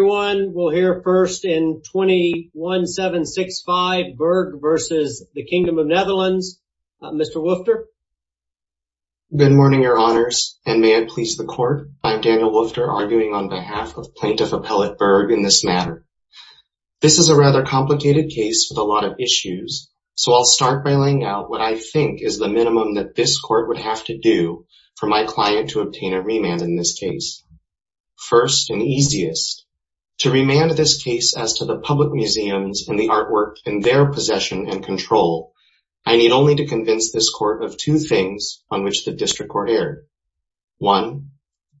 Everyone will hear first in 21-765, Berg versus the Kingdom of the Netherlands, Mr. Woofter. Good morning, your honors, and may it please the court, I'm Daniel Woofter, arguing on behalf of Plaintiff Appellate Berg in this matter. This is a rather complicated case with a lot of issues, so I'll start by laying out what I think is the minimum that this court would have to do for my client to obtain a remand in this case. First and easiest, to remand this case as to the public museums and the artwork in their possession and control, I need only to convince this court of two things on which the district court erred. One,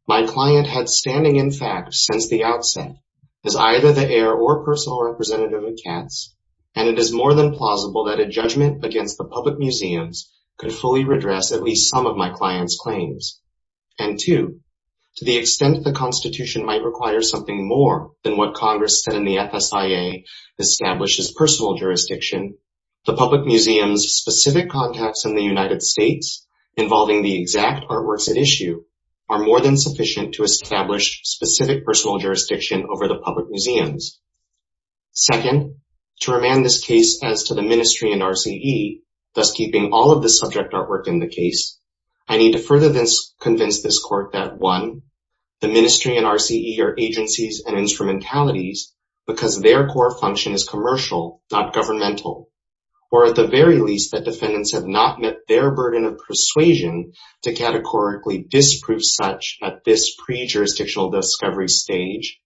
my client had standing in fact since the outset as either the heir or personal representative of Katz, and it is more than plausible that a judgment against the public museums could fully redress at least some of my client's claims. And two, to the extent the Constitution might require something more than what Congress said in the FSIA establishes personal jurisdiction, the public museums' specific contacts in the United States involving the exact artworks at issue are more than sufficient to establish specific personal jurisdiction over the public museums. Second, to remand this case as to the ministry and RCE, thus keeping all of the subject artwork in the case, I need to further convince this court that one, the ministry and RCE are agencies and instrumentalities because their core function is commercial, not governmental, or at the very least that defendants have not met their burden of persuasion to categorically disprove such at this pre-jurisdictional discovery stage.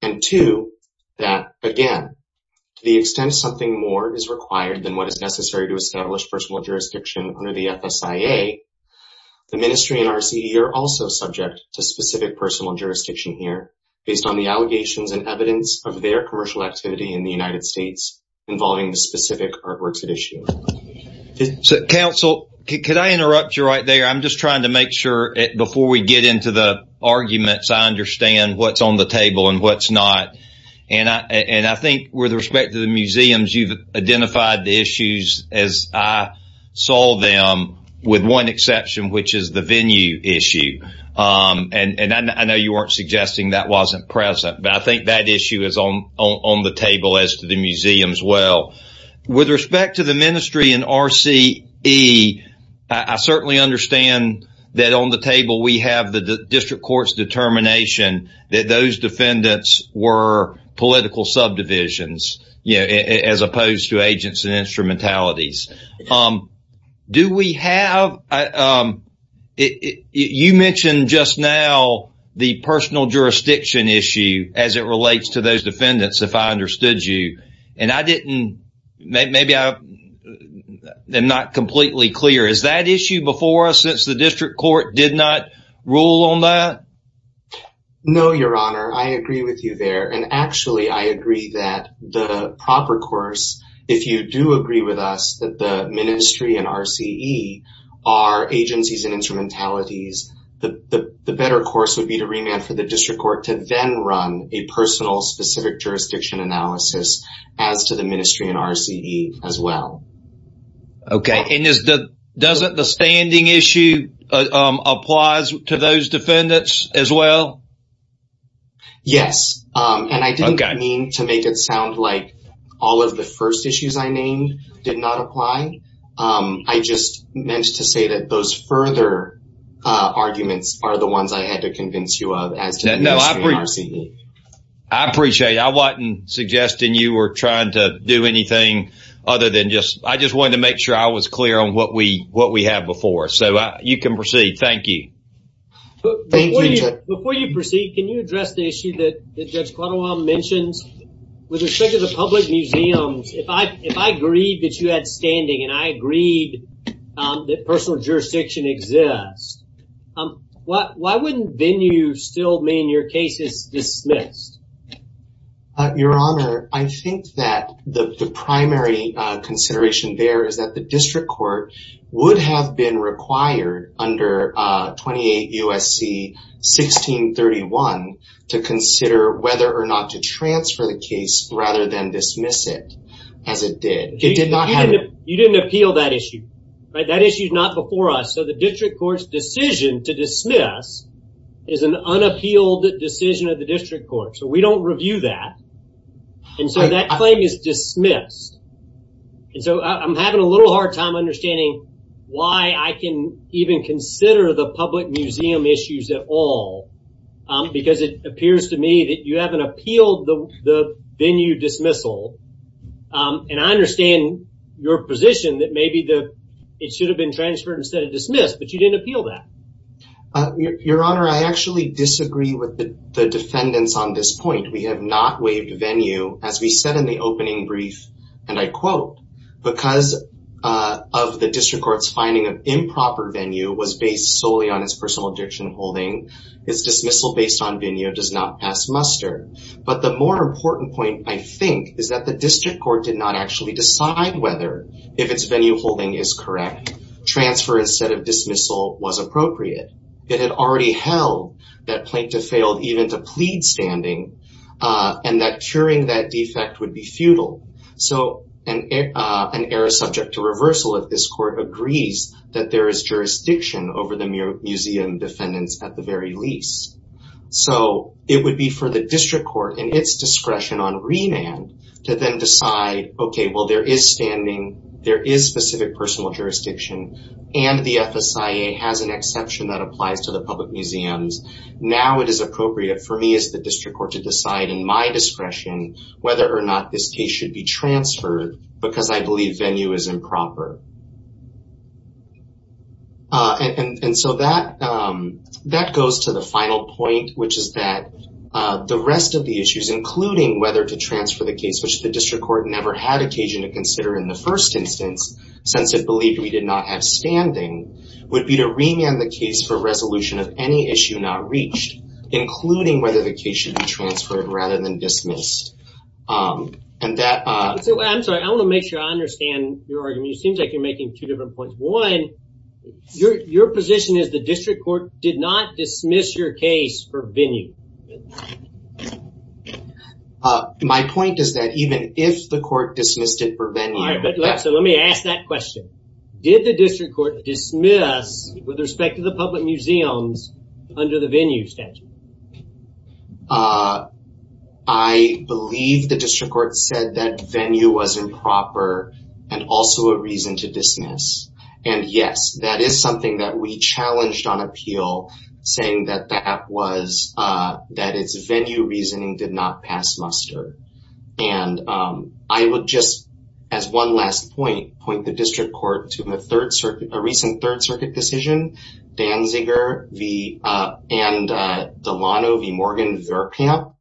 And two, that again, to the extent something more is required than what is necessary to the FSIA, the ministry and RCE are also subject to specific personal jurisdiction here based on the allegations and evidence of their commercial activity in the United States involving the specific artworks at issue. So, counsel, could I interrupt you right there? I'm just trying to make sure before we get into the arguments, I understand what's on the table and what's not. And I think with respect to the museums, you've identified the issues as I saw them with one exception, which is the venue issue. And I know you weren't suggesting that wasn't present, but I think that issue is on the table as to the museums as well. With respect to the ministry and RCE, I certainly understand that on the table we have the district court's determination that those defendants were political subdivisions as opposed to agents and instrumentalities. Do we have, you mentioned just now the personal jurisdiction issue as it relates to those defendants, if I understood you. And I didn't, maybe I'm not completely clear. Is that issue before us since the district court did not rule on that? No, your honor. I agree with you there. And actually, I agree that the proper course, if you do agree with us that the ministry and RCE are agencies and instrumentalities, the better course would be to remand for the district court to then run a personal specific jurisdiction analysis as to the ministry and RCE as well. Okay. And doesn't the standing issue apply to those defendants as well? Yes. And I didn't mean to make it sound like all of the first issues I named did not apply. I just meant to say that those further arguments are the ones I had to convince you of as to the ministry and RCE. I appreciate it. I wasn't suggesting you were trying to do anything other than just, I just wanted to make sure I was clear on what we have before. So you can proceed. Thank you. Before you proceed, can you address the issue that Judge Cordova mentions with respect to the public museums? If I agreed that you had standing and I agreed that personal jurisdiction exists, why wouldn't then you still mean your case is dismissed? Your Honor, I think that the primary consideration there is that the district court would have been required under 28 USC 1631 to consider whether or not to transfer the case rather than dismiss it as it did. You didn't appeal that issue, right? That issue is not before us. So the district court's decision to dismiss is an unappealed decision of the district court. So we don't review that. And so that claim is dismissed. And so I'm having a little hard time understanding why I can even consider the public museum issues at all. Because it appears to me that you haven't appealed the venue dismissal. And I understand your position that maybe it should have been transferred instead of dismissed, but you didn't appeal that. Your Honor, I actually disagree with the defendants on this point. We have not waived venue. As we said in the opening brief, and I quote, because of the district court's finding of improper venue was based solely on its personal jurisdiction holding, its dismissal based on venue does not pass muster. But the more important point, I think, is that the district court did not actually decide whether if its venue holding is correct, transfer instead of dismissal was appropriate. It had already held that Plaintiff failed even to plead standing and that curing that defect would be futile. So an error subject to reversal of this court agrees that there is jurisdiction over the museum defendants at the very least. So it would be for the district court and its discretion on remand to then decide, okay, well, there is standing, there is specific personal jurisdiction, and the FSIA has an exception that applies to the public museums. Now it is appropriate for me as the district court to decide in my discretion whether or not this case should be transferred because I believe venue is improper. And so that goes to the final point, which is that the rest of the issues, including whether to transfer the case, which the district court never had occasion to consider in the first instance, since it believed we did not have standing, would be to remand the case for resolution of any issue not reached, including whether the case should be transferred rather than dismissed. And that... I'm sorry. I want to make sure I understand your argument. It seems like you're making two different points. One, your position is the district court did not dismiss your case for venue. My point is that even if the court dismissed it for venue... All right, so let me ask that question. Did the district court dismiss with respect to the public museums under the venue statute? I believe the district court said that venue was improper and also a reason to dismiss. And yes, that is something that we challenged on appeal, saying that that was... That it's venue reasoning did not pass muster. And I would just, as one last point, point the district court to a recent third circuit decision, Danziger v. and Delano v. Morgan Verkamp,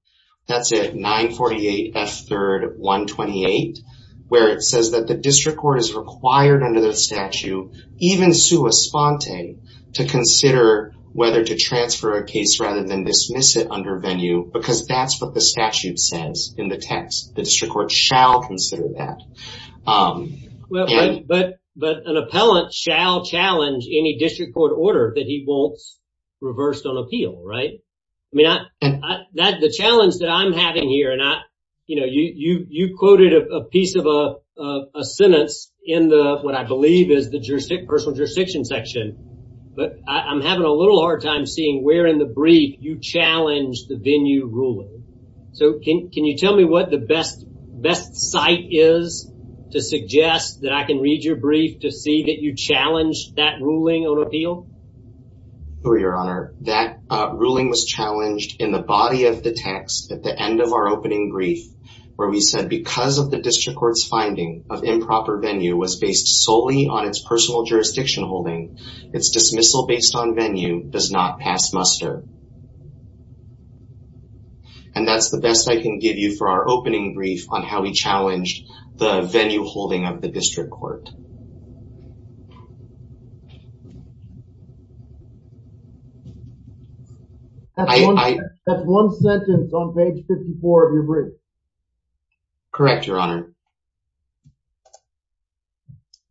that's it, 948 F3rd 128, where it says that the district court is required under the statute, even sui sponte, to consider whether to transfer a case rather than dismiss it under venue, because that's what the statute says in the text. The district court shall consider that. But an appellant shall challenge any district court order that he wants reversed on appeal, right? I mean, the challenge that I'm having here, and you quoted a piece of a sentence in what I believe is the personal jurisdiction section, but I'm having a little hard time seeing where in the brief you challenged the venue ruling. So can you tell me what the best site is to suggest that I can read your brief to see that you challenged that ruling on appeal? Oh, your honor, that ruling was challenged in the body of the text at the end of our opening brief, where we said, because of the district court's finding of improper venue was based solely on its personal jurisdiction holding, its dismissal based on venue does not pass muster. And that's the best I can give you for our opening brief on how we challenged the venue holding of the district court. That's one sentence on page 54 of your brief. Correct, your honor.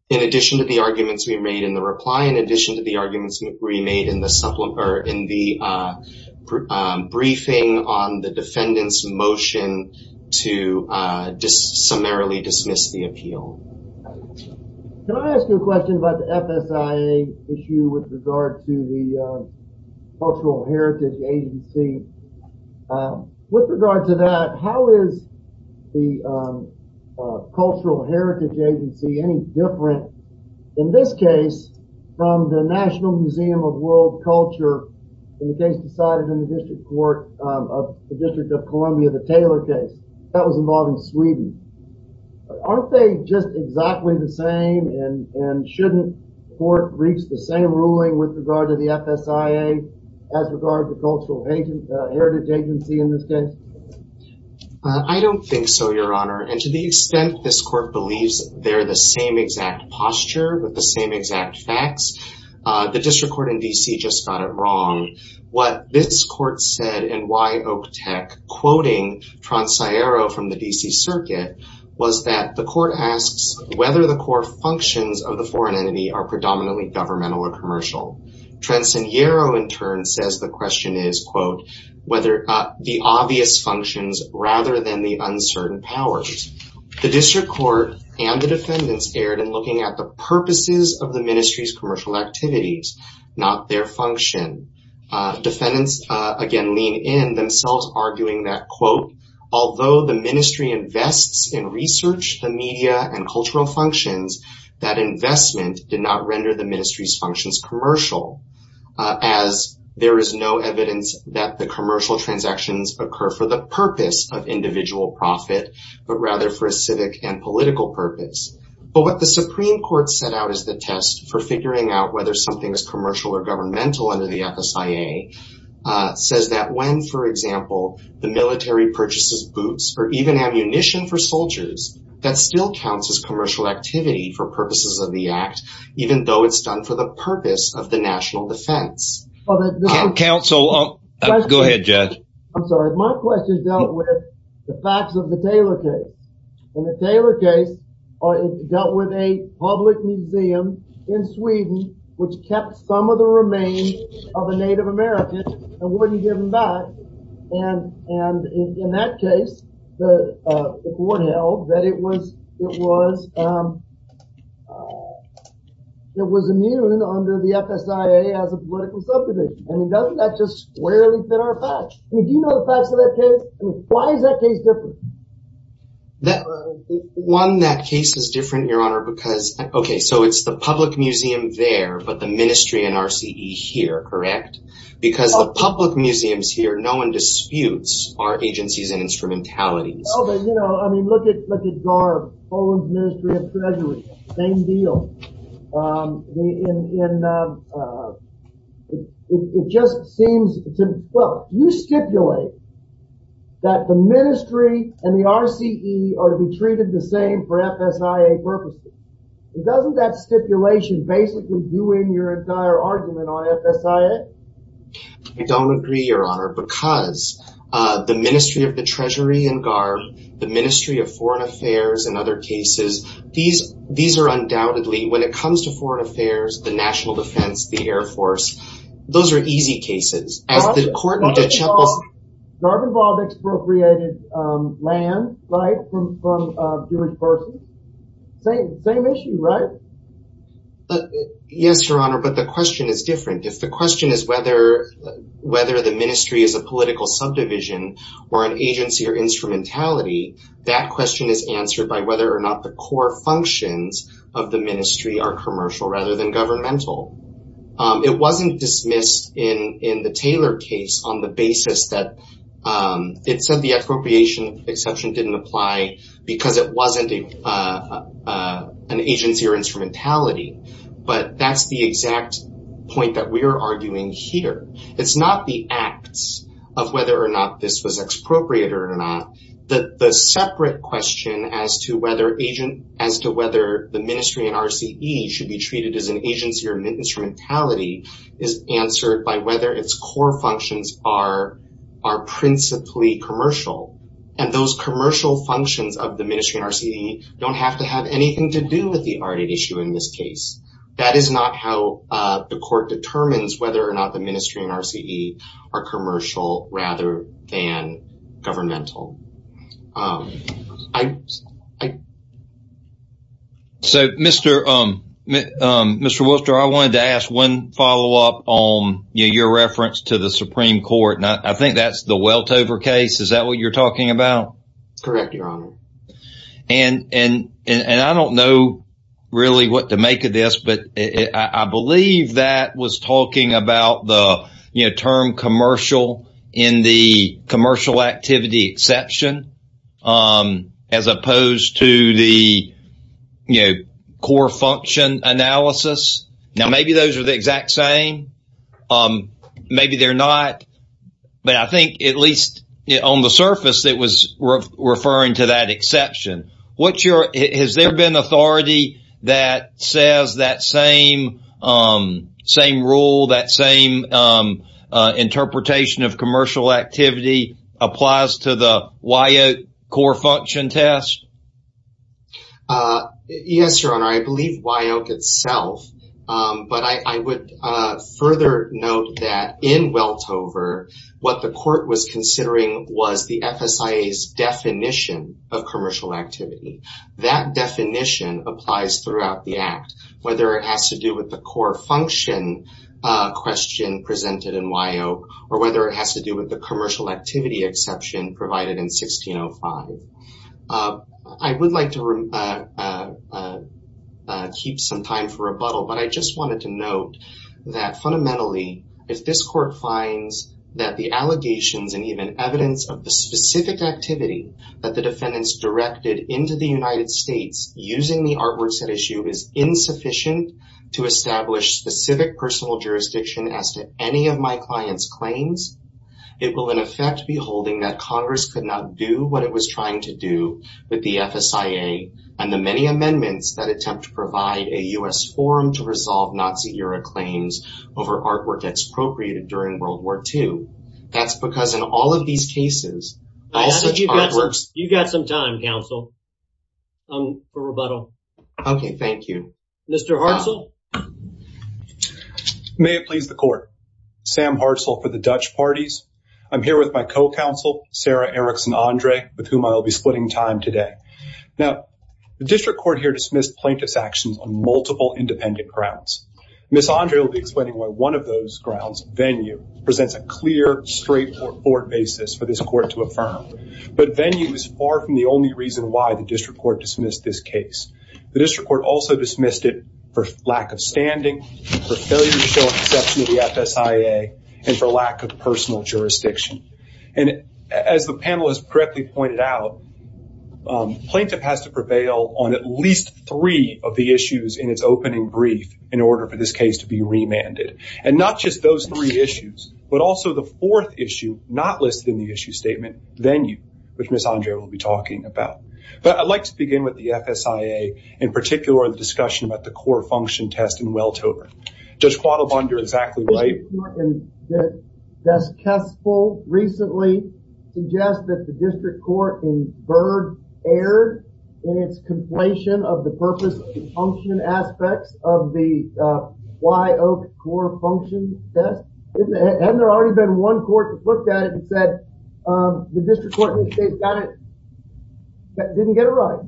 In addition to the arguments we made in the reply, in addition to the arguments we made in the briefing on the defendant's motion to summarily dismiss the appeal. Can I ask you a question about the FSIA issue with regard to the cultural heritage agency? With regard to that, how is the cultural heritage agency any different in this case from the National Museum of World Culture in the case decided in the district court of the District of Columbia, the Taylor case, that was involved in Sweden. Aren't they just exactly the same and shouldn't the court reach the same ruling with regard to the FSIA as regard to cultural heritage agency in this case? I don't think so, your honor, and to the extent this court believes they're the same exact posture with the same exact facts, the district court in D.C. just got it wrong. What this court said and why Oktek quoting Tronsiero from the D.C. circuit was that the court asks whether the core functions of the foreign entity are predominantly governmental or commercial. Tronsiero, in turn, says the question is, quote, whether the obvious functions rather than the uncertain powers. The district court and the defendants erred in looking at the purposes of the ministry's commercial activities, not their function. Defendants again lean in, themselves arguing that, quote, although the ministry invests in research, the media, and cultural functions, that investment did not render the ministry's functions commercial as there is no evidence that the commercial transactions occur for the purpose of individual profit, but rather for a civic and political purpose. But what the Supreme Court set out as the test for figuring out whether something is commercial or governmental under the FSIA says that when, for example, the military purchases boots or even ammunition for soldiers, that still counts as commercial activity for purposes of the act, even though it's done for the purpose of the national defense. Counsel, go ahead, judge. I'm sorry. My question dealt with the facts of the Taylor case, and the Taylor case dealt with a public museum in Sweden, which kept some of the remains of a Native American and wouldn't give them back. And in that case, the court held that it was immune under the FSIA as a political subdivision. I mean, doesn't that just squarely fit our facts? I mean, do you know the facts of that case? I mean, why is that case different? One, that case is different, Your Honor, because, okay, so it's the public museum there, but the ministry and RCE here, correct? Because the public museums here, no one disputes our agencies and instrumentalities. Oh, but, you know, I mean, look at GARB, Poland's Ministry of Treasury, same deal. It just seems, well, you stipulate that the ministry and the RCE are to be treated the same for FSIA purposes. Doesn't that stipulation basically do in your entire argument on FSIA? I don't agree, Your Honor, because the Ministry of the Treasury and GARB, the Ministry of when it comes to foreign affairs, the national defense, the Air Force, those are easy cases. As the court in DeChapelle's- GARB involved expropriated land, right, from Jewish persons? Same issue, right? Yes, Your Honor, but the question is different. If the question is whether the ministry is a political subdivision or an agency or instrumentality, that question is answered by whether or not the core functions of the ministry are commercial rather than governmental. It wasn't dismissed in the Taylor case on the basis that it said the appropriation exception didn't apply because it wasn't an agency or instrumentality, but that's the exact point that we're arguing here. It's not the acts of whether or not this was expropriated or not, the separate question as to whether the ministry and RCE should be treated as an agency or instrumentality is answered by whether its core functions are principally commercial, and those commercial functions of the ministry and RCE don't have to have anything to do with the ARDID issue in this case. That is not how the court determines whether or not the ministry and RCE are commercial rather than governmental. So Mr. Wooster, I wanted to ask one follow-up on your reference to the Supreme Court, and I think that's the Weltover case, is that what you're talking about? Correct, Your Honor. And I don't know really what to make of this, but I believe that was talking about the term commercial in the commercial activity exception as opposed to the core function analysis. Now maybe those are the exact same, maybe they're not, but I think at least on the surface it was referring to that exception. Has there been authority that says that same rule, that same interpretation of commercial activity applies to the WYOC core function test? Yes, Your Honor, I believe WYOC itself, but I would further note that in Weltover what the court was considering was the FSIA's definition of commercial activity. That definition applies throughout the Act, whether it has to do with the core function question presented in WYOC or whether it has to do with the commercial activity exception provided in 1605. I would like to keep some time for rebuttal, but I just wanted to note that fundamentally if this court finds that the allegations and even evidence of the specific activity that the defendants directed into the United States using the artworks at issue is insufficient to establish specific personal jurisdiction as to any of my client's claims, it will in effect be holding that Congress could not do what it was trying to do with the FSIA and the many amendments that attempt to provide a U.S. forum to resolve Nazi-era claims over artwork that's appropriated during World War II. That's because in all of these cases, all such artworks... You've got some time, counsel, for rebuttal. Okay, thank you. Mr. Hartzell? May it please the court. Sam Hartzell for the Dutch Parties. I'm here with my co-counsel, Sarah Erickson Andre, with whom I will be splitting time today. Now, the district court here dismissed plaintiff's actions on multiple independent grounds. Ms. Andre will be explaining why one of those grounds, venue, presents a clear, straightforward basis for this court to affirm. But venue is far from the only reason why the district court dismissed this case. The district court also dismissed it for lack of standing, for failure to show an exception to the FSIA, and for lack of personal jurisdiction. As the panel has correctly pointed out, plaintiff has to prevail on at least three of the issues in its opening brief in order for this case to be remanded. And not just those three issues, but also the fourth issue not listed in the issue statement, venue, which Ms. Andre will be talking about. But I'd like to begin with the FSIA, in particular, the discussion about the core function test in Welthoven. Judge Quattlebond, you're exactly right. The district court, and Judge Kessel, recently suggested that the district court in Byrd erred in its completion of the purpose and function aspects of the Y.O.C.O.R.E. function test. Hadn't there already been one court that looked at it and said, the district court in the state got it, didn't get it right?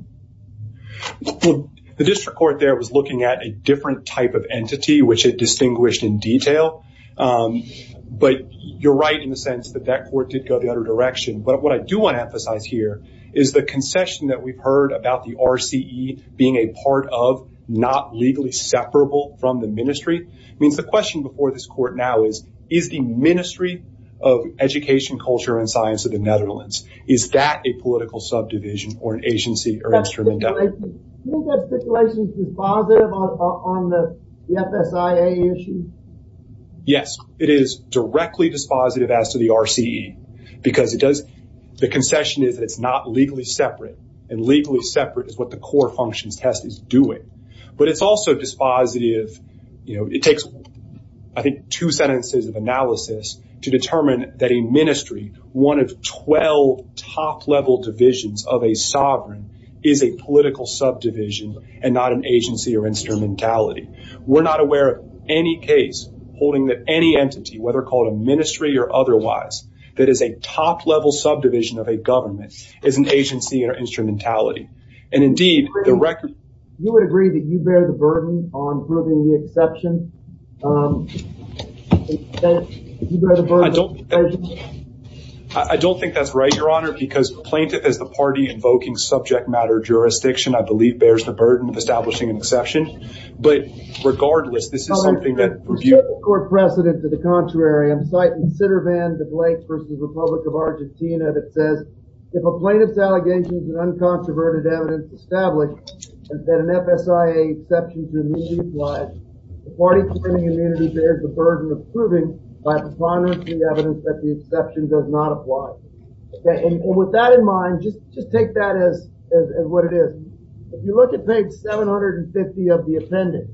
The district court there was looking at a different type of entity, which it distinguished in detail. But you're right in the sense that that court did go the other direction. But what I do want to emphasize here is the concession that we've heard about the RCE being a part of, not legally separable from the ministry, means the question before this court now is, is the Ministry of Education, Culture, and Science of the Netherlands, is that a political subdivision or an agency or instrument of- Isn't that stipulation dispositive on the FSIA issue? Yes, it is directly dispositive as to the RCE, because the concession is that it's not legally separate, and legally separate is what the core functions test is doing. But it's also dispositive, it takes, I think, two sentences of analysis to determine that a ministry, one of 12 top level divisions of a sovereign, is a political subdivision and not an agency or instrumentality. We're not aware of any case holding that any entity, whether called a ministry or otherwise, that is a top level subdivision of a government, is an agency or instrumentality. And indeed- You would agree that you bear the burden on proving the exception? I don't think that's right, Your Honor, because the plaintiff is the party invoking subject matter jurisdiction, I believe bears the burden of establishing an exception. But regardless, this is something that review- Your Honor, there's no court precedent to the contrary. I'm citing Sitter van de Blake versus Republic of Argentina that says, if a plaintiff's allegations and uncontroverted evidence established that an FSIA exception is a new replied, the party claiming immunity bears the burden of proving by preponderance the evidence that the exception does not apply. Okay, and with that in mind, just take that as what it is. If you look at page 750 of the appendix,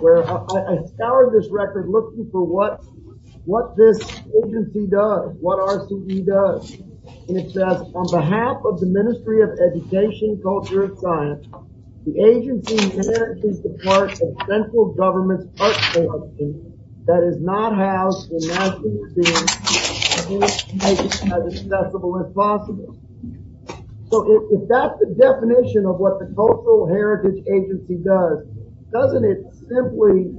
where I scoured this record looking for what this agency does, what RCE does, and it says, on behalf of the Ministry of Education, Culture, and Science, the agency inherits the support of central government's art collection that is not housed in national museums and is made as accessible as possible. So, if that's the definition of what the Cultural Heritage Agency does, doesn't it simply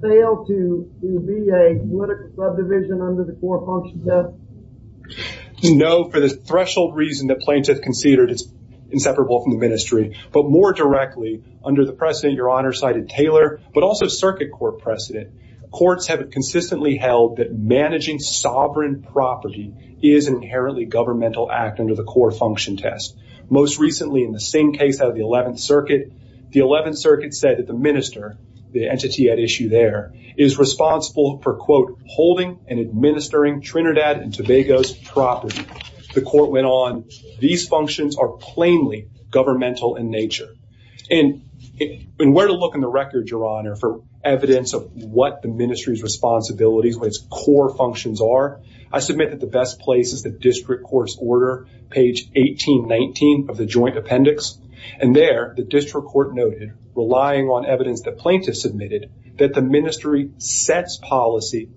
fail to be a political subdivision under the core function test? No, for the threshold reason that plaintiff conceded, it's inseparable from the ministry. But more directly, under the precedent Your Honor cited Taylor, but also circuit court precedent, courts have consistently held that managing sovereign property is inherently governmental act under the core function test. Most recently, in the same case out of the 11th Circuit, the 11th Circuit said that the minister, the entity at issue there, is responsible for, quote, holding and administering Trinidad and Tobago's property. The court went on, these functions are plainly governmental in nature. And where to look in the record, Your Honor, for evidence of what the ministry's responsibilities, what its core functions are, I submit that the best place is the district court's order, page 1819 of the joint appendix. And there, the district court noted, relying on evidence that plaintiffs submitted, that the ministry sets policy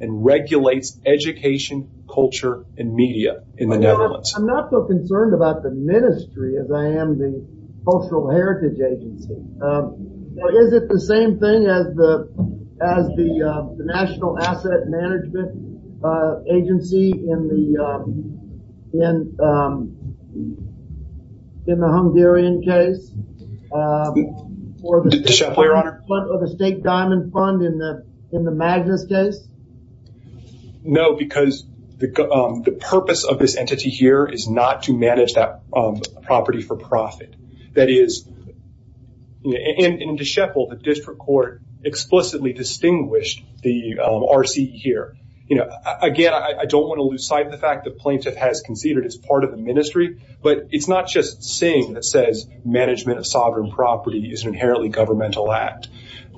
and regulates education, culture, and media in the Netherlands. I'm not so concerned about the ministry as I am the Cultural Heritage Agency. Is it the same thing as the National Asset Management Agency in the Hungarian case? Or the State Diamond Fund in the Magnus case? No, because the purpose of this entity here is not to manage that property for profit. That is, in De Scheffel, the district court explicitly distinguished the RCE here. You know, again, I don't want to lose sight of the fact that plaintiff has considered it as part of the ministry. But it's not just Singh that says management of sovereign property is an inherently governmental act.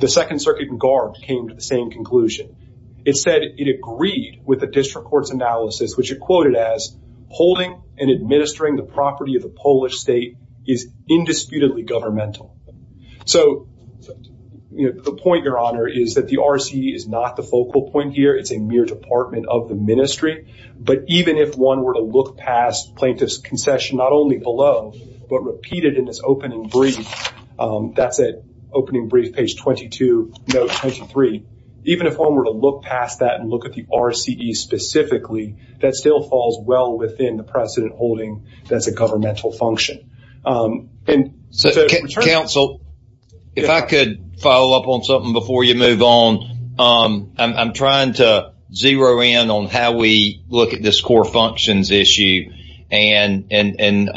The Second Circuit in Garb came to the same conclusion. It said it agreed with the district court's analysis, which it quoted as, holding and indisputably governmental. So the point, Your Honor, is that the RCE is not the focal point here. It's a mere department of the ministry. But even if one were to look past plaintiff's concession, not only below, but repeated in this opening brief, that's it, opening brief, page 22, note 23. Even if one were to look past that and look at the RCE specifically, that still falls well within the precedent holding that's a governmental function. And so, counsel, if I could follow up on something before you move on, I'm trying to zero in on how we look at this core functions issue. And, you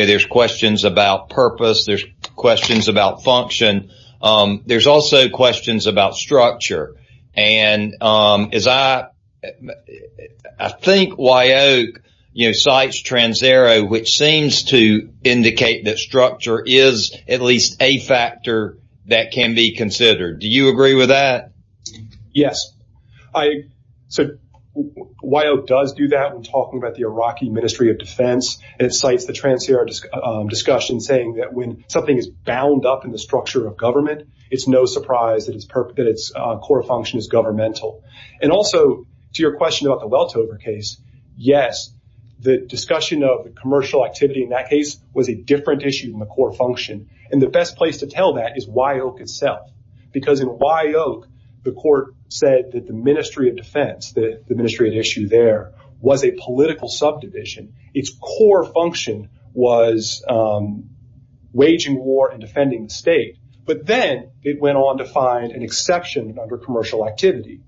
know, there's questions about purpose. There's questions about function. There's also questions about structure. And as I think Wyoke, you know, cites Trans-Ero, which seems to indicate that structure is at least a factor that can be considered. Do you agree with that? Yes. So Wyoke does do that when talking about the Iraqi Ministry of Defense. It cites the Trans-Ero discussion saying that when something is bound up in the structure of government, it's no surprise that its core function is governmental. And also, to your question about the Weltover case, yes, the discussion of the commercial activity in that case was a different issue than the core function. And the best place to tell that is Wyoke itself. Because in Wyoke, the court said that the Ministry of Defense, the ministry at issue there, was a political subdivision. Its core function was waging war and defending the state. But then it went on to find an exception under commercial activity,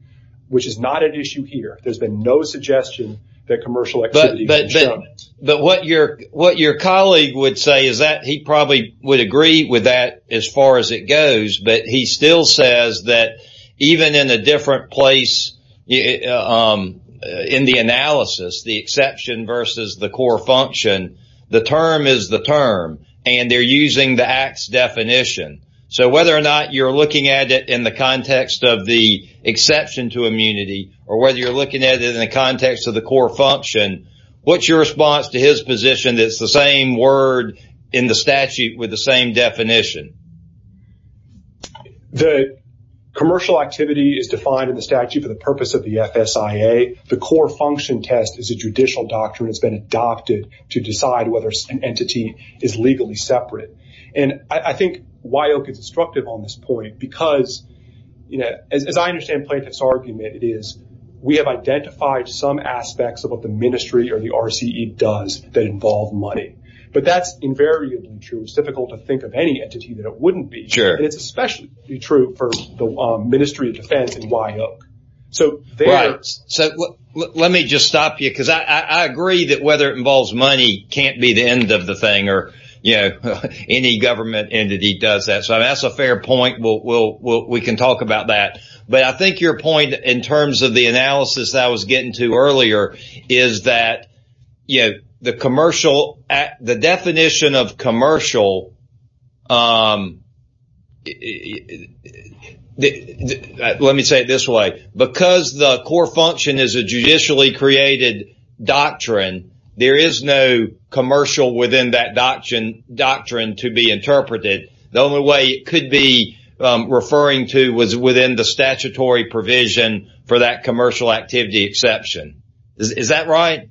which is not an issue here. There's been no suggestion that commercial activity was government. But what your colleague would say is that he probably would agree with that as far as it goes. But he still says that even in a different place in the analysis, the exception versus the core function, the term is the term. And they're using the act's definition. So whether or not you're looking at it in the context of the exception to immunity, or whether you're looking at it in the context of the core function, what's your response to his position that it's the same word in the statute with the same definition? The commercial activity is defined in the statute for the purpose of the FSIA. The core function test is a judicial doctrine. It's been adopted to decide whether an entity is legally separate. And I think Wyoke is instructive on this point because, as I understand Plaintiff's argument, it is we have identified some aspects of what the ministry or the RCE does that involve money. But that's invariably true. It's difficult to think of any entity that it wouldn't be. It's especially true for the Ministry of Defense and Wyoke. Right. So let me just stop you because I agree that whether it involves money can't be the end of the thing or any government entity does that. So that's a fair point. We can talk about that. But I think your point in terms of the analysis that I was getting to earlier is that the definition of commercial, let me say it this way. Because the core function is a judicially created doctrine, there is no commercial within that doctrine to be interpreted. The only way it could be referring to was within the statutory provision for that commercial activity exception. Is that right?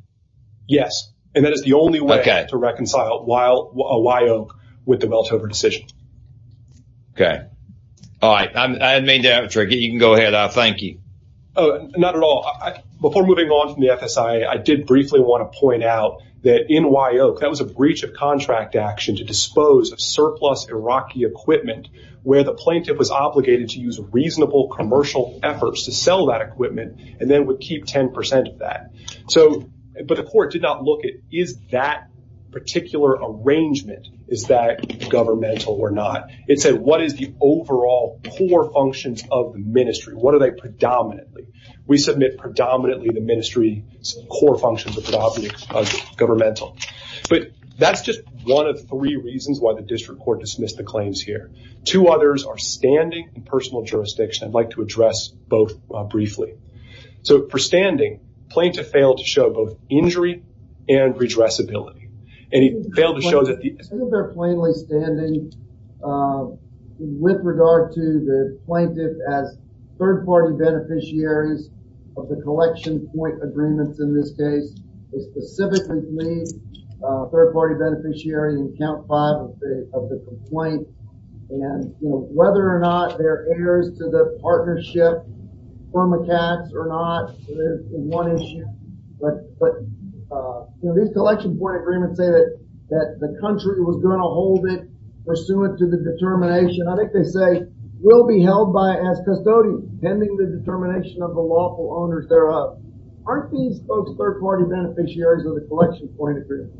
Yes. And that is the only way to reconcile Wyoke with the Welthoever decision. Okay. All right. I made that up. You can go ahead. Thank you. Not at all. Before moving on from the FSIA, I did briefly want to point out that in Wyoke, that was a breach of contract action to dispose of surplus Iraqi equipment where the plaintiff was obligated to use reasonable commercial efforts to sell that equipment and then would keep 10 percent of that. But the court did not look at, is that particular arrangement, is that governmental or not? It said, what is the overall core functions of the ministry? What are they predominantly? We submit predominantly the ministry's core functions are predominantly governmental. That's just one of three reasons why the district court dismissed the claims here. Two others are standing and personal jurisdiction. I'd like to address both briefly. So, for standing, the plaintiff failed to show both injury and redressability. And he failed to show that... I think they're plainly standing with regard to the plaintiff as third-party beneficiaries of the collection point agreements in this case. They specifically plead third-party beneficiary in count five of the complaint. And whether or not they're heirs to the partnership from a tax or not is one issue. But these collection point agreements say that the country was going to hold it pursuant to the determination. I think they say, will be held by as custodians pending the determination of the lawful owners thereof. Aren't these folks third-party beneficiaries of the collection point agreement?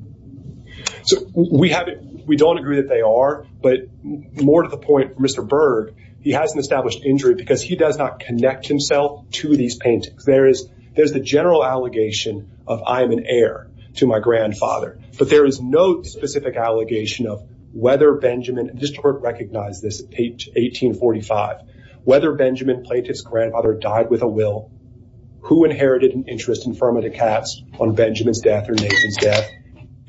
So, we don't agree that they are. But more to the point, Mr. Berg, he hasn't established injury because he does not connect himself to these paintings. There's the general allegation of I'm an heir to my grandfather. But there is no specific allegation of whether Benjamin... District Court recognized this at page 1845. Whether Benjamin Plaintiff's grandfather died with a will, who inherited an interest in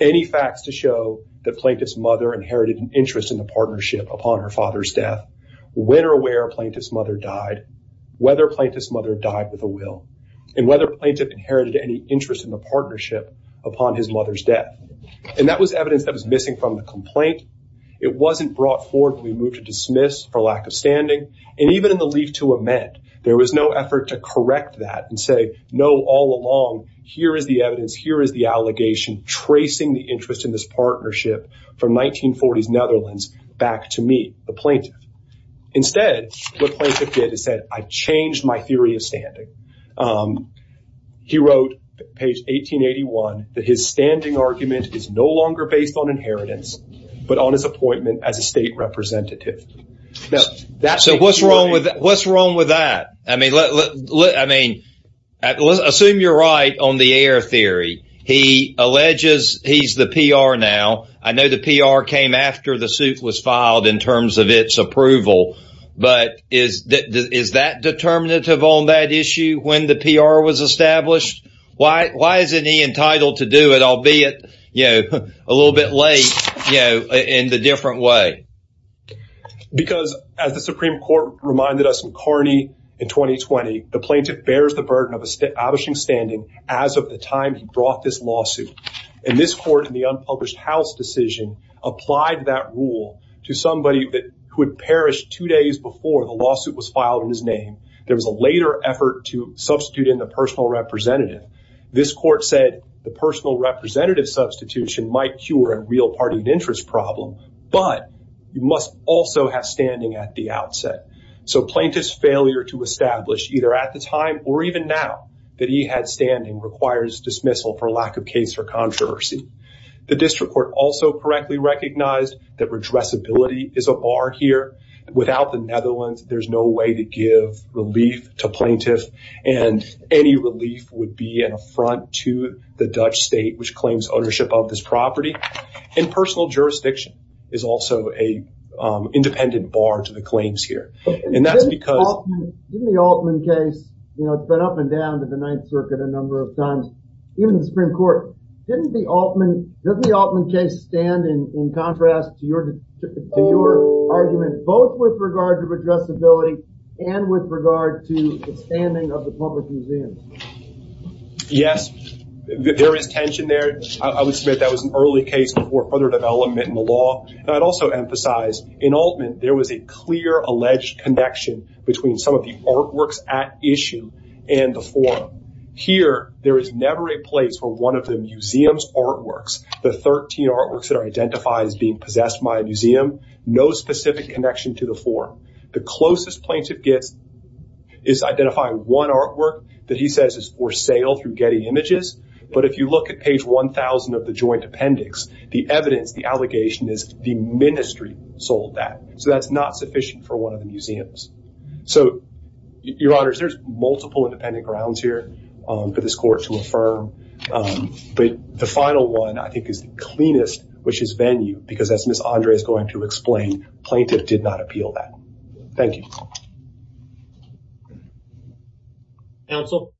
any facts to show that Plaintiff's mother inherited an interest in the partnership upon her father's death, when or where Plaintiff's mother died, whether Plaintiff's mother died with a will, and whether Plaintiff inherited any interest in the partnership upon his mother's death. And that was evidence that was missing from the complaint. It wasn't brought forward when we moved to dismiss for lack of standing. And even in the leaf to amend, there was no effort to correct that and say, no, all along, here is the evidence, here is the allegation tracing the interest in this partnership from 1940s Netherlands back to me, the Plaintiff. Instead, what Plaintiff did is said, I changed my theory of standing. He wrote, page 1881, that his standing argument is no longer based on inheritance, but on his appointment as a state representative. Now, that's... So, what's wrong with that? What's wrong with that? I mean, assume you're right on the air theory. He alleges he's the PR now. I know the PR came after the suit was filed in terms of its approval. But is that determinative on that issue when the PR was established? Why isn't he entitled to do it, albeit, you know, a little bit late, you know, in the different way? Because as the Supreme Court reminded us in Carney in 2020, the Plaintiff bears the burden of establishing standing as of the time he brought this lawsuit. And this court in the unpublished house decision applied that rule to somebody who had perished two days before the lawsuit was filed in his name. There was a later effort to substitute in the personal representative. This court said the personal representative substitution might cure a real party interest problem, but you must also have standing at the outset. So, Plaintiff's failure to establish either at the time or even now that he had standing requires dismissal for lack of case or controversy. The district court also correctly recognized that redressability is a bar here. Without the Netherlands, there's no way to give relief to Plaintiff and any relief would be an affront to the Dutch state, which claims ownership of this property. And personal jurisdiction is also an independent bar to the claims here. And that's because... In the Altman case, you know, it's been up and down to the Ninth Circuit a number of times, even the Supreme Court. Didn't the Altman, doesn't the Altman case stand in contrast to your argument, both with regard to redressability and with regard to the standing of the public museum? Yes, there is tension there. I would submit that was an early case before further development in the law. And I'd also emphasize, in Altman, there was a clear alleged connection between some of the artworks at issue and the forum. Here, there is never a place where one of the museum's artworks, the 13 artworks that are identified as being possessed by a museum, no specific connection to the forum. The closest Plaintiff gets is identifying one artwork that he says is for sale through Getty Images. But if you look at page 1,000 of the joint appendix, the evidence, the allegation is the Ministry sold that. So that's not sufficient for one of the museums. So, Your Honors, there's multiple independent grounds here for this Court to affirm. But the final one, I think, is the cleanest, which is venue, because as Ms. Andre is going to explain, Plaintiff did not appeal that. Thank you. Counsel?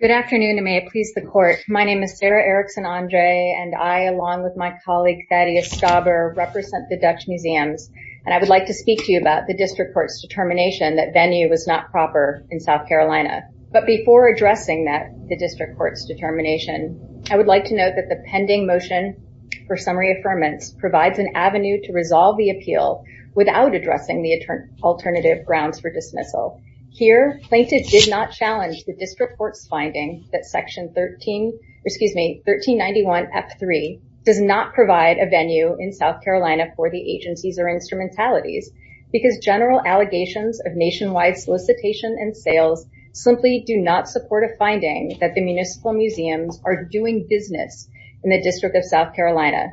Good afternoon. May it please the Court. My name is Sarah Erickson Andre, and I, along with my colleague Thaddeus Stauber, represent the Dutch Museums. And I would like to speak to you about the District Court's determination that venue was not proper in South Carolina. But before addressing that, the District Court's determination, I would like to note that the pending motion for summary affirmance provides an avenue to resolve the appeal without addressing the alternative grounds for dismissal. Here, Plaintiff did not challenge the District Court's finding that Section 1391-F-3 does not provide a venue in South Carolina for the agencies or instrumentalities, because general allegations of nationwide solicitation and sales simply do not support a finding that the municipal museums are doing business in the District of South Carolina.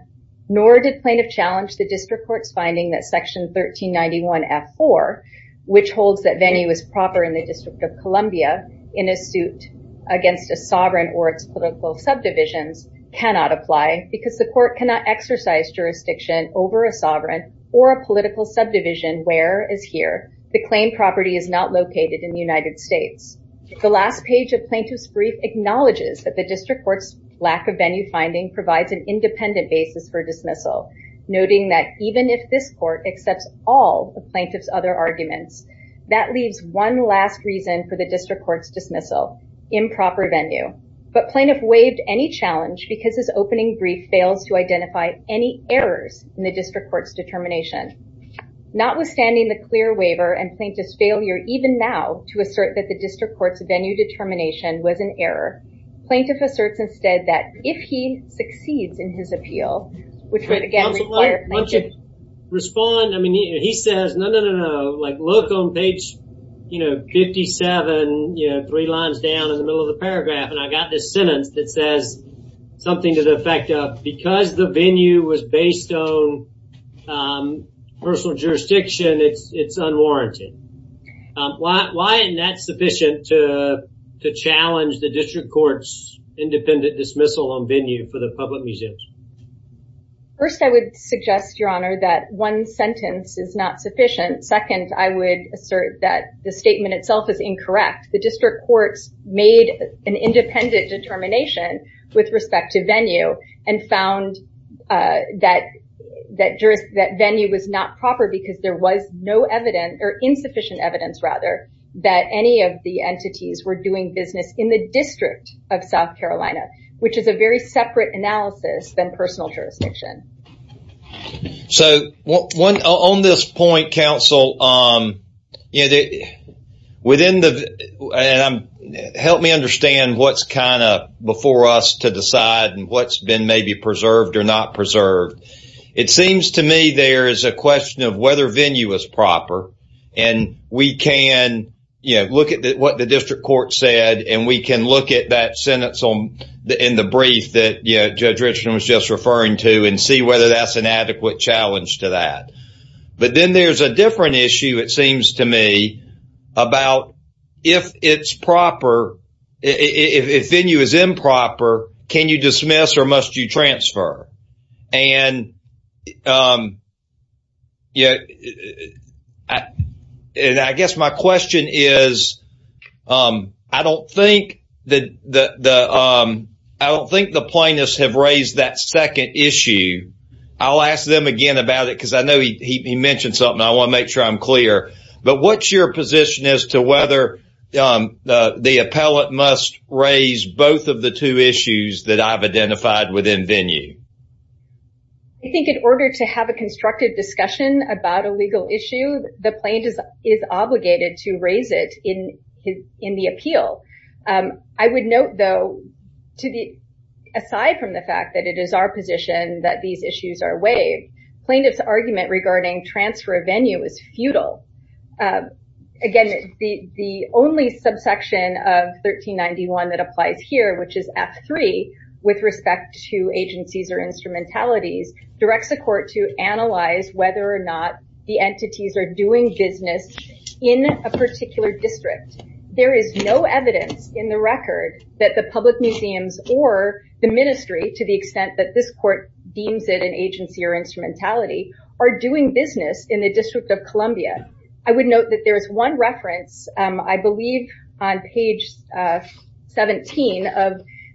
Nor did Plaintiff challenge the District Court's finding that Section 1391-F-4, which holds that venue is proper in the District of Columbia in a suit against a sovereign or its political subdivisions, cannot apply because the Court cannot exercise jurisdiction over a sovereign or a political subdivision where is here. The claimed property is not located in the United States. The last page of Plaintiff's brief acknowledges that the District Court's lack of venue finding provides an independent basis for dismissal, noting that even if this Court accepts all of Plaintiff's other arguments, that leaves one last reason for the District Court's dismissal, improper venue. But Plaintiff waived any challenge because his opening brief fails to identify any errors in the District Court's determination. Notwithstanding the clear waiver and Plaintiff's failure even now to assert that the District Court's venue determination was an error, Plaintiff asserts instead that if he succeeds in his appeal, which would again require Plaintiff... Respond, I mean, he says, no, no, no, no, like look on page, you know, 57, you know, three lines down in the middle of the paragraph and I got this sentence that says something to the effect of, because the venue was based on personal jurisdiction, it's unwarranted. Why isn't that sufficient to challenge the District Court's independent dismissal on the part of the public museums? First I would suggest, Your Honor, that one sentence is not sufficient. Second, I would assert that the statement itself is incorrect. The District Court's made an independent determination with respect to venue and found that venue was not proper because there was no evidence or insufficient evidence, rather, that any of the entities were doing business in the District of South Carolina, which is a very separate analysis than personal jurisdiction. So on this point, counsel, help me understand what's kind of before us to decide and what's been maybe preserved or not preserved. It seems to me there is a question of whether venue is proper and we can, you know, look at what the District Court said and we can look at that sentence in the brief that Judge Richardson was just referring to and see whether that's an adequate challenge to that. But then there's a different issue, it seems to me, about if it's proper, if venue is improper, can you dismiss or must you transfer? And I guess my question is, I don't think the plaintiffs have raised that second issue. I'll ask them again about it because I know he mentioned something. I want to make sure I'm clear. But what's your position as to whether the appellate must raise both of the two issues that I've identified within venue? I think in order to have a constructive discussion about a legal issue, the plaintiff is obligated to raise it in the appeal. I would note, though, aside from the fact that it is our position that these issues are waived, plaintiff's argument regarding transfer of venue is futile. Again, the only subsection of 1391 that applies here, which is F3, with respect to agencies or instrumentalities, directs the court to analyze whether or not the entities are doing business in a particular district. There is no evidence in the record that the public museums or the ministry, to the extent that this court deems it an agency or instrumentality, are doing business in the District of Columbia. I would note that there is one reference, I believe, on page 17 of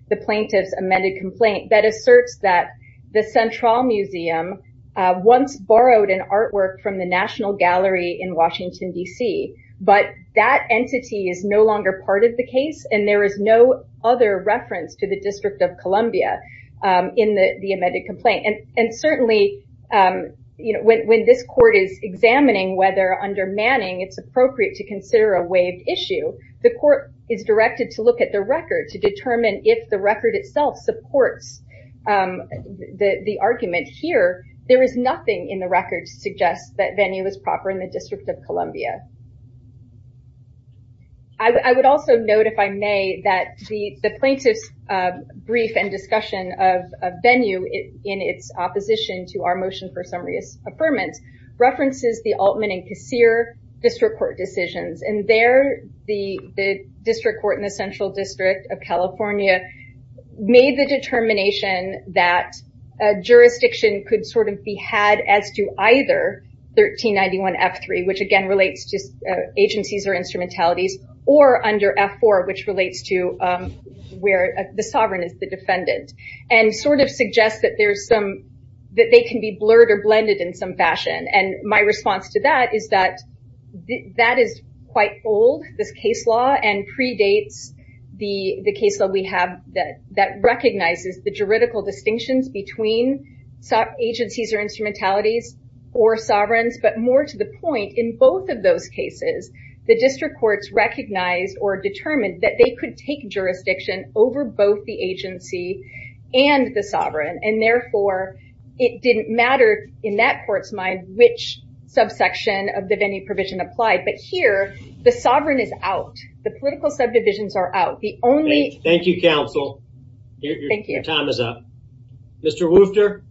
the plaintiff's amended complaint that asserts that the Central Museum once borrowed an artwork from the National Gallery in Washington, D.C. But that entity is no longer part of the case, and there is no other reference to the District of Columbia in the amended complaint. Certainly, when this court is examining whether under Manning it's appropriate to consider a waived issue, the court is directed to look at the record to determine if the record itself supports the argument here. There is nothing in the record to suggest that venue is proper in the District of Columbia. I would also note, if I may, that the plaintiff's brief and discussion of venue in its opposition to our motion for summary affirmance references the Altman and Kassir District Court decisions. And there, the District Court in the Central District of California made the determination that a jurisdiction could sort of be had as to either 1391 F3, which again relates to agencies or instrumentalities, or under F4, which relates to where the sovereign is the defendant, and sort of suggests that they can be blurred or blended in some fashion. And my response to that is that that is quite bold, this case law, and predates the case that we have that recognizes the juridical distinctions between agencies or instrumentalities or sovereigns. But more to the point, in both of those cases, the District Courts recognized or determined that they could take jurisdiction over both the agency and the sovereign. And therefore, it didn't matter in that court's mind which subsection of the venue provision applied. But here, the sovereign is out. The political subdivisions are out. Thank you, Counsel. Your time is up. Mr. Woofter.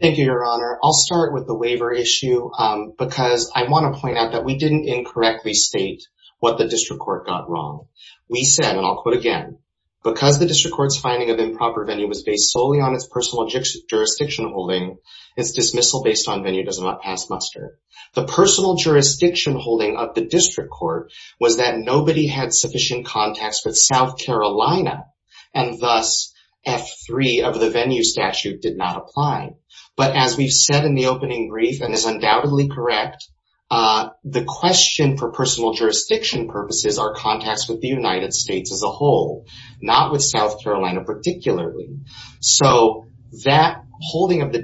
Thank you, Your Honor. I'll start with the waiver issue because I want to point out that we didn't incorrectly state what the District Court got wrong. We said, and I'll quote again, because the District Court's finding of improper venue was based solely on its personal jurisdiction holding, its dismissal based on venue does not pass muster. The personal jurisdiction holding of the District Court was that nobody had sufficient contacts with South Carolina. And thus, F3 of the venue statute did not apply. But as we've said in the opening brief and is undoubtedly correct, the question for personal jurisdiction purposes are contacts with the United States as a whole, not with South Carolina particularly. So that holding of the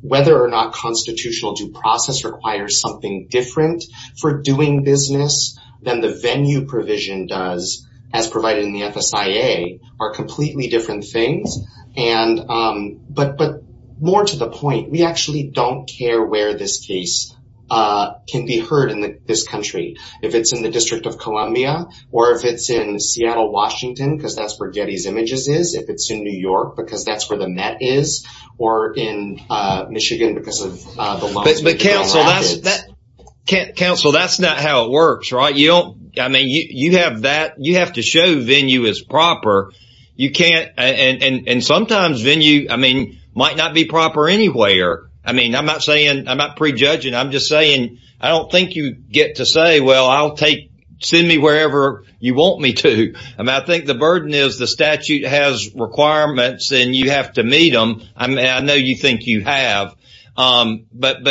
whether or not constitutional due process requires something different for doing business than the venue provision does as provided in the FSIA are completely different things. But more to the point, we actually don't care where this case can be heard in this country. If it's in the District of Columbia, or if it's in Seattle, Washington, because that's where Getty's Images is, if it's in New York, because that's where the Met is, or in Michigan, because of the law. Counsel, that's not how it works, right? You don't, I mean, you have that you have to show venue is proper. You can't and sometimes venue, I mean, might not be proper anywhere. I mean, I'm not saying I'm not prejudging. I'm just saying, I don't think you get to say, well, I'll take, send me wherever you want me to. I mean, I think the burden is the statute has requirements, and you have to meet them. I mean, I know you think you have. But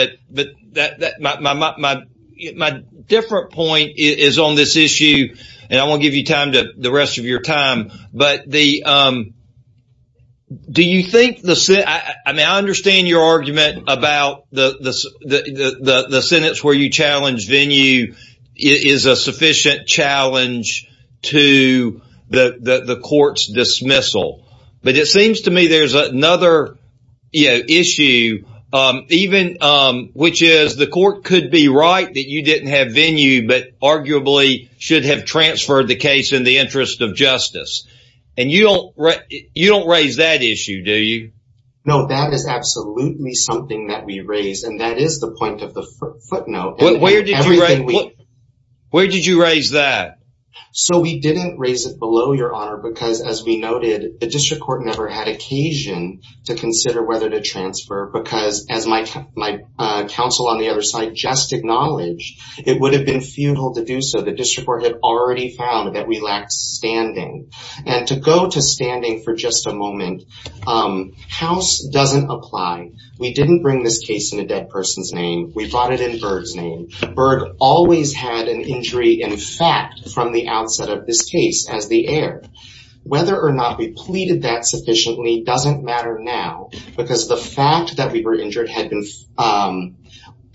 my different point is on this issue. And I won't give you time to the rest of your time. But do you think the, I mean, I understand your argument about the sentence where you challenge venue is a sufficient challenge to the court's dismissal. But it seems to me there's another issue, even which is the court could be right that you didn't have venue, but arguably should have transferred the case in the interest of justice. And you don't raise that issue, do you? No, that is absolutely something that we raise. And that is the point of the footnote. Where did you raise that? So we didn't raise it below your honor, because as we noted, the district court never had occasion to consider whether to transfer because as my counsel on the other side just acknowledged, it would have been futile to do so. The district had already found that we lacked standing. And to go to standing for just a moment, house doesn't apply. We didn't bring this case in a dead person's name. We brought it in Berg's name. Berg always had an injury, in fact, from the outset of this case as the heir. Whether or not we pleaded that sufficiently doesn't matter now, because the fact that we were injured had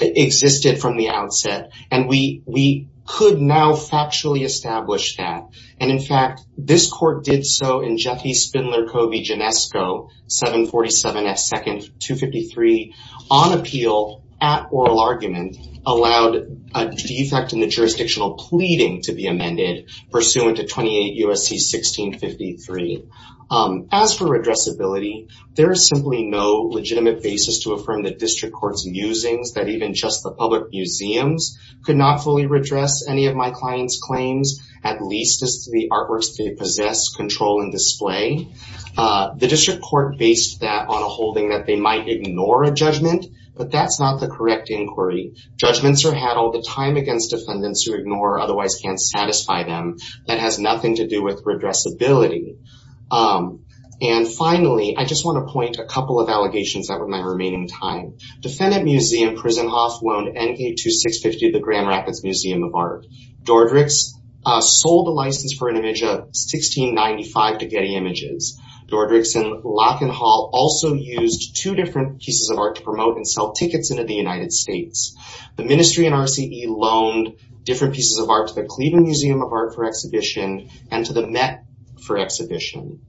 existed from the outset. And we could now factually establish that. And in fact, this court did so in Jeffy Spindler Covey, Genesco, 747 at second 253, on appeal at oral argument, allowed a defect in the jurisdictional pleading to be amended, pursuant to 28 U.S.C. 1653. As for redressability, there is simply no legitimate basis to affirm the district court's musings that even just the public museums could not fully redress any of my client's claims, at least as to the artworks they possess, control, and display. The district court based that on a holding that they might ignore a judgment, but that's not the correct inquiry. Judgments are had all the time against defendants who ignore or otherwise can't satisfy them. That has nothing to do with redressability. And finally, I just want to point a couple of allegations that were my remaining time. Defendant Museum, Prisenhoff, loaned NK-2650 to the Grand Rapids Museum of Art. Dordricks sold a license for an image of 1695 to Getty Images. Dordricks and Locke and Hall also used two different pieces of art to promote and sell tickets into the United States. The Ministry and RCE loaned different pieces of art to the Cleveland Museum of Art for exhibition and to the Met for exhibition.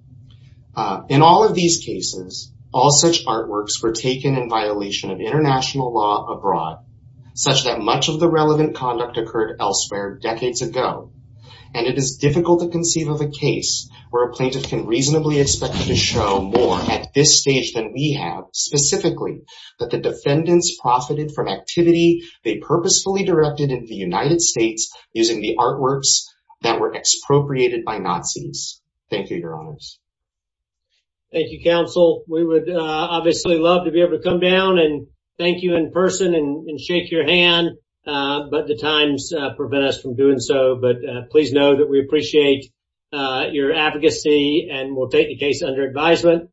In all of these cases, all such artworks were taken in violation of international law abroad, such that much of the relevant conduct occurred elsewhere decades ago. And it is difficult to conceive of a case where a plaintiff can reasonably expect to show more at this stage than we have, specifically that the defendants profited from activity they purposefully directed in the United States using the artworks that were expropriated by Nazis. Thank you, your honors. Thank you, counsel. We would obviously love to be able to come down and thank you in person and shake your hand, but the times prevent us from doing so. But please know we appreciate your advocacy and we'll take the case under advisement.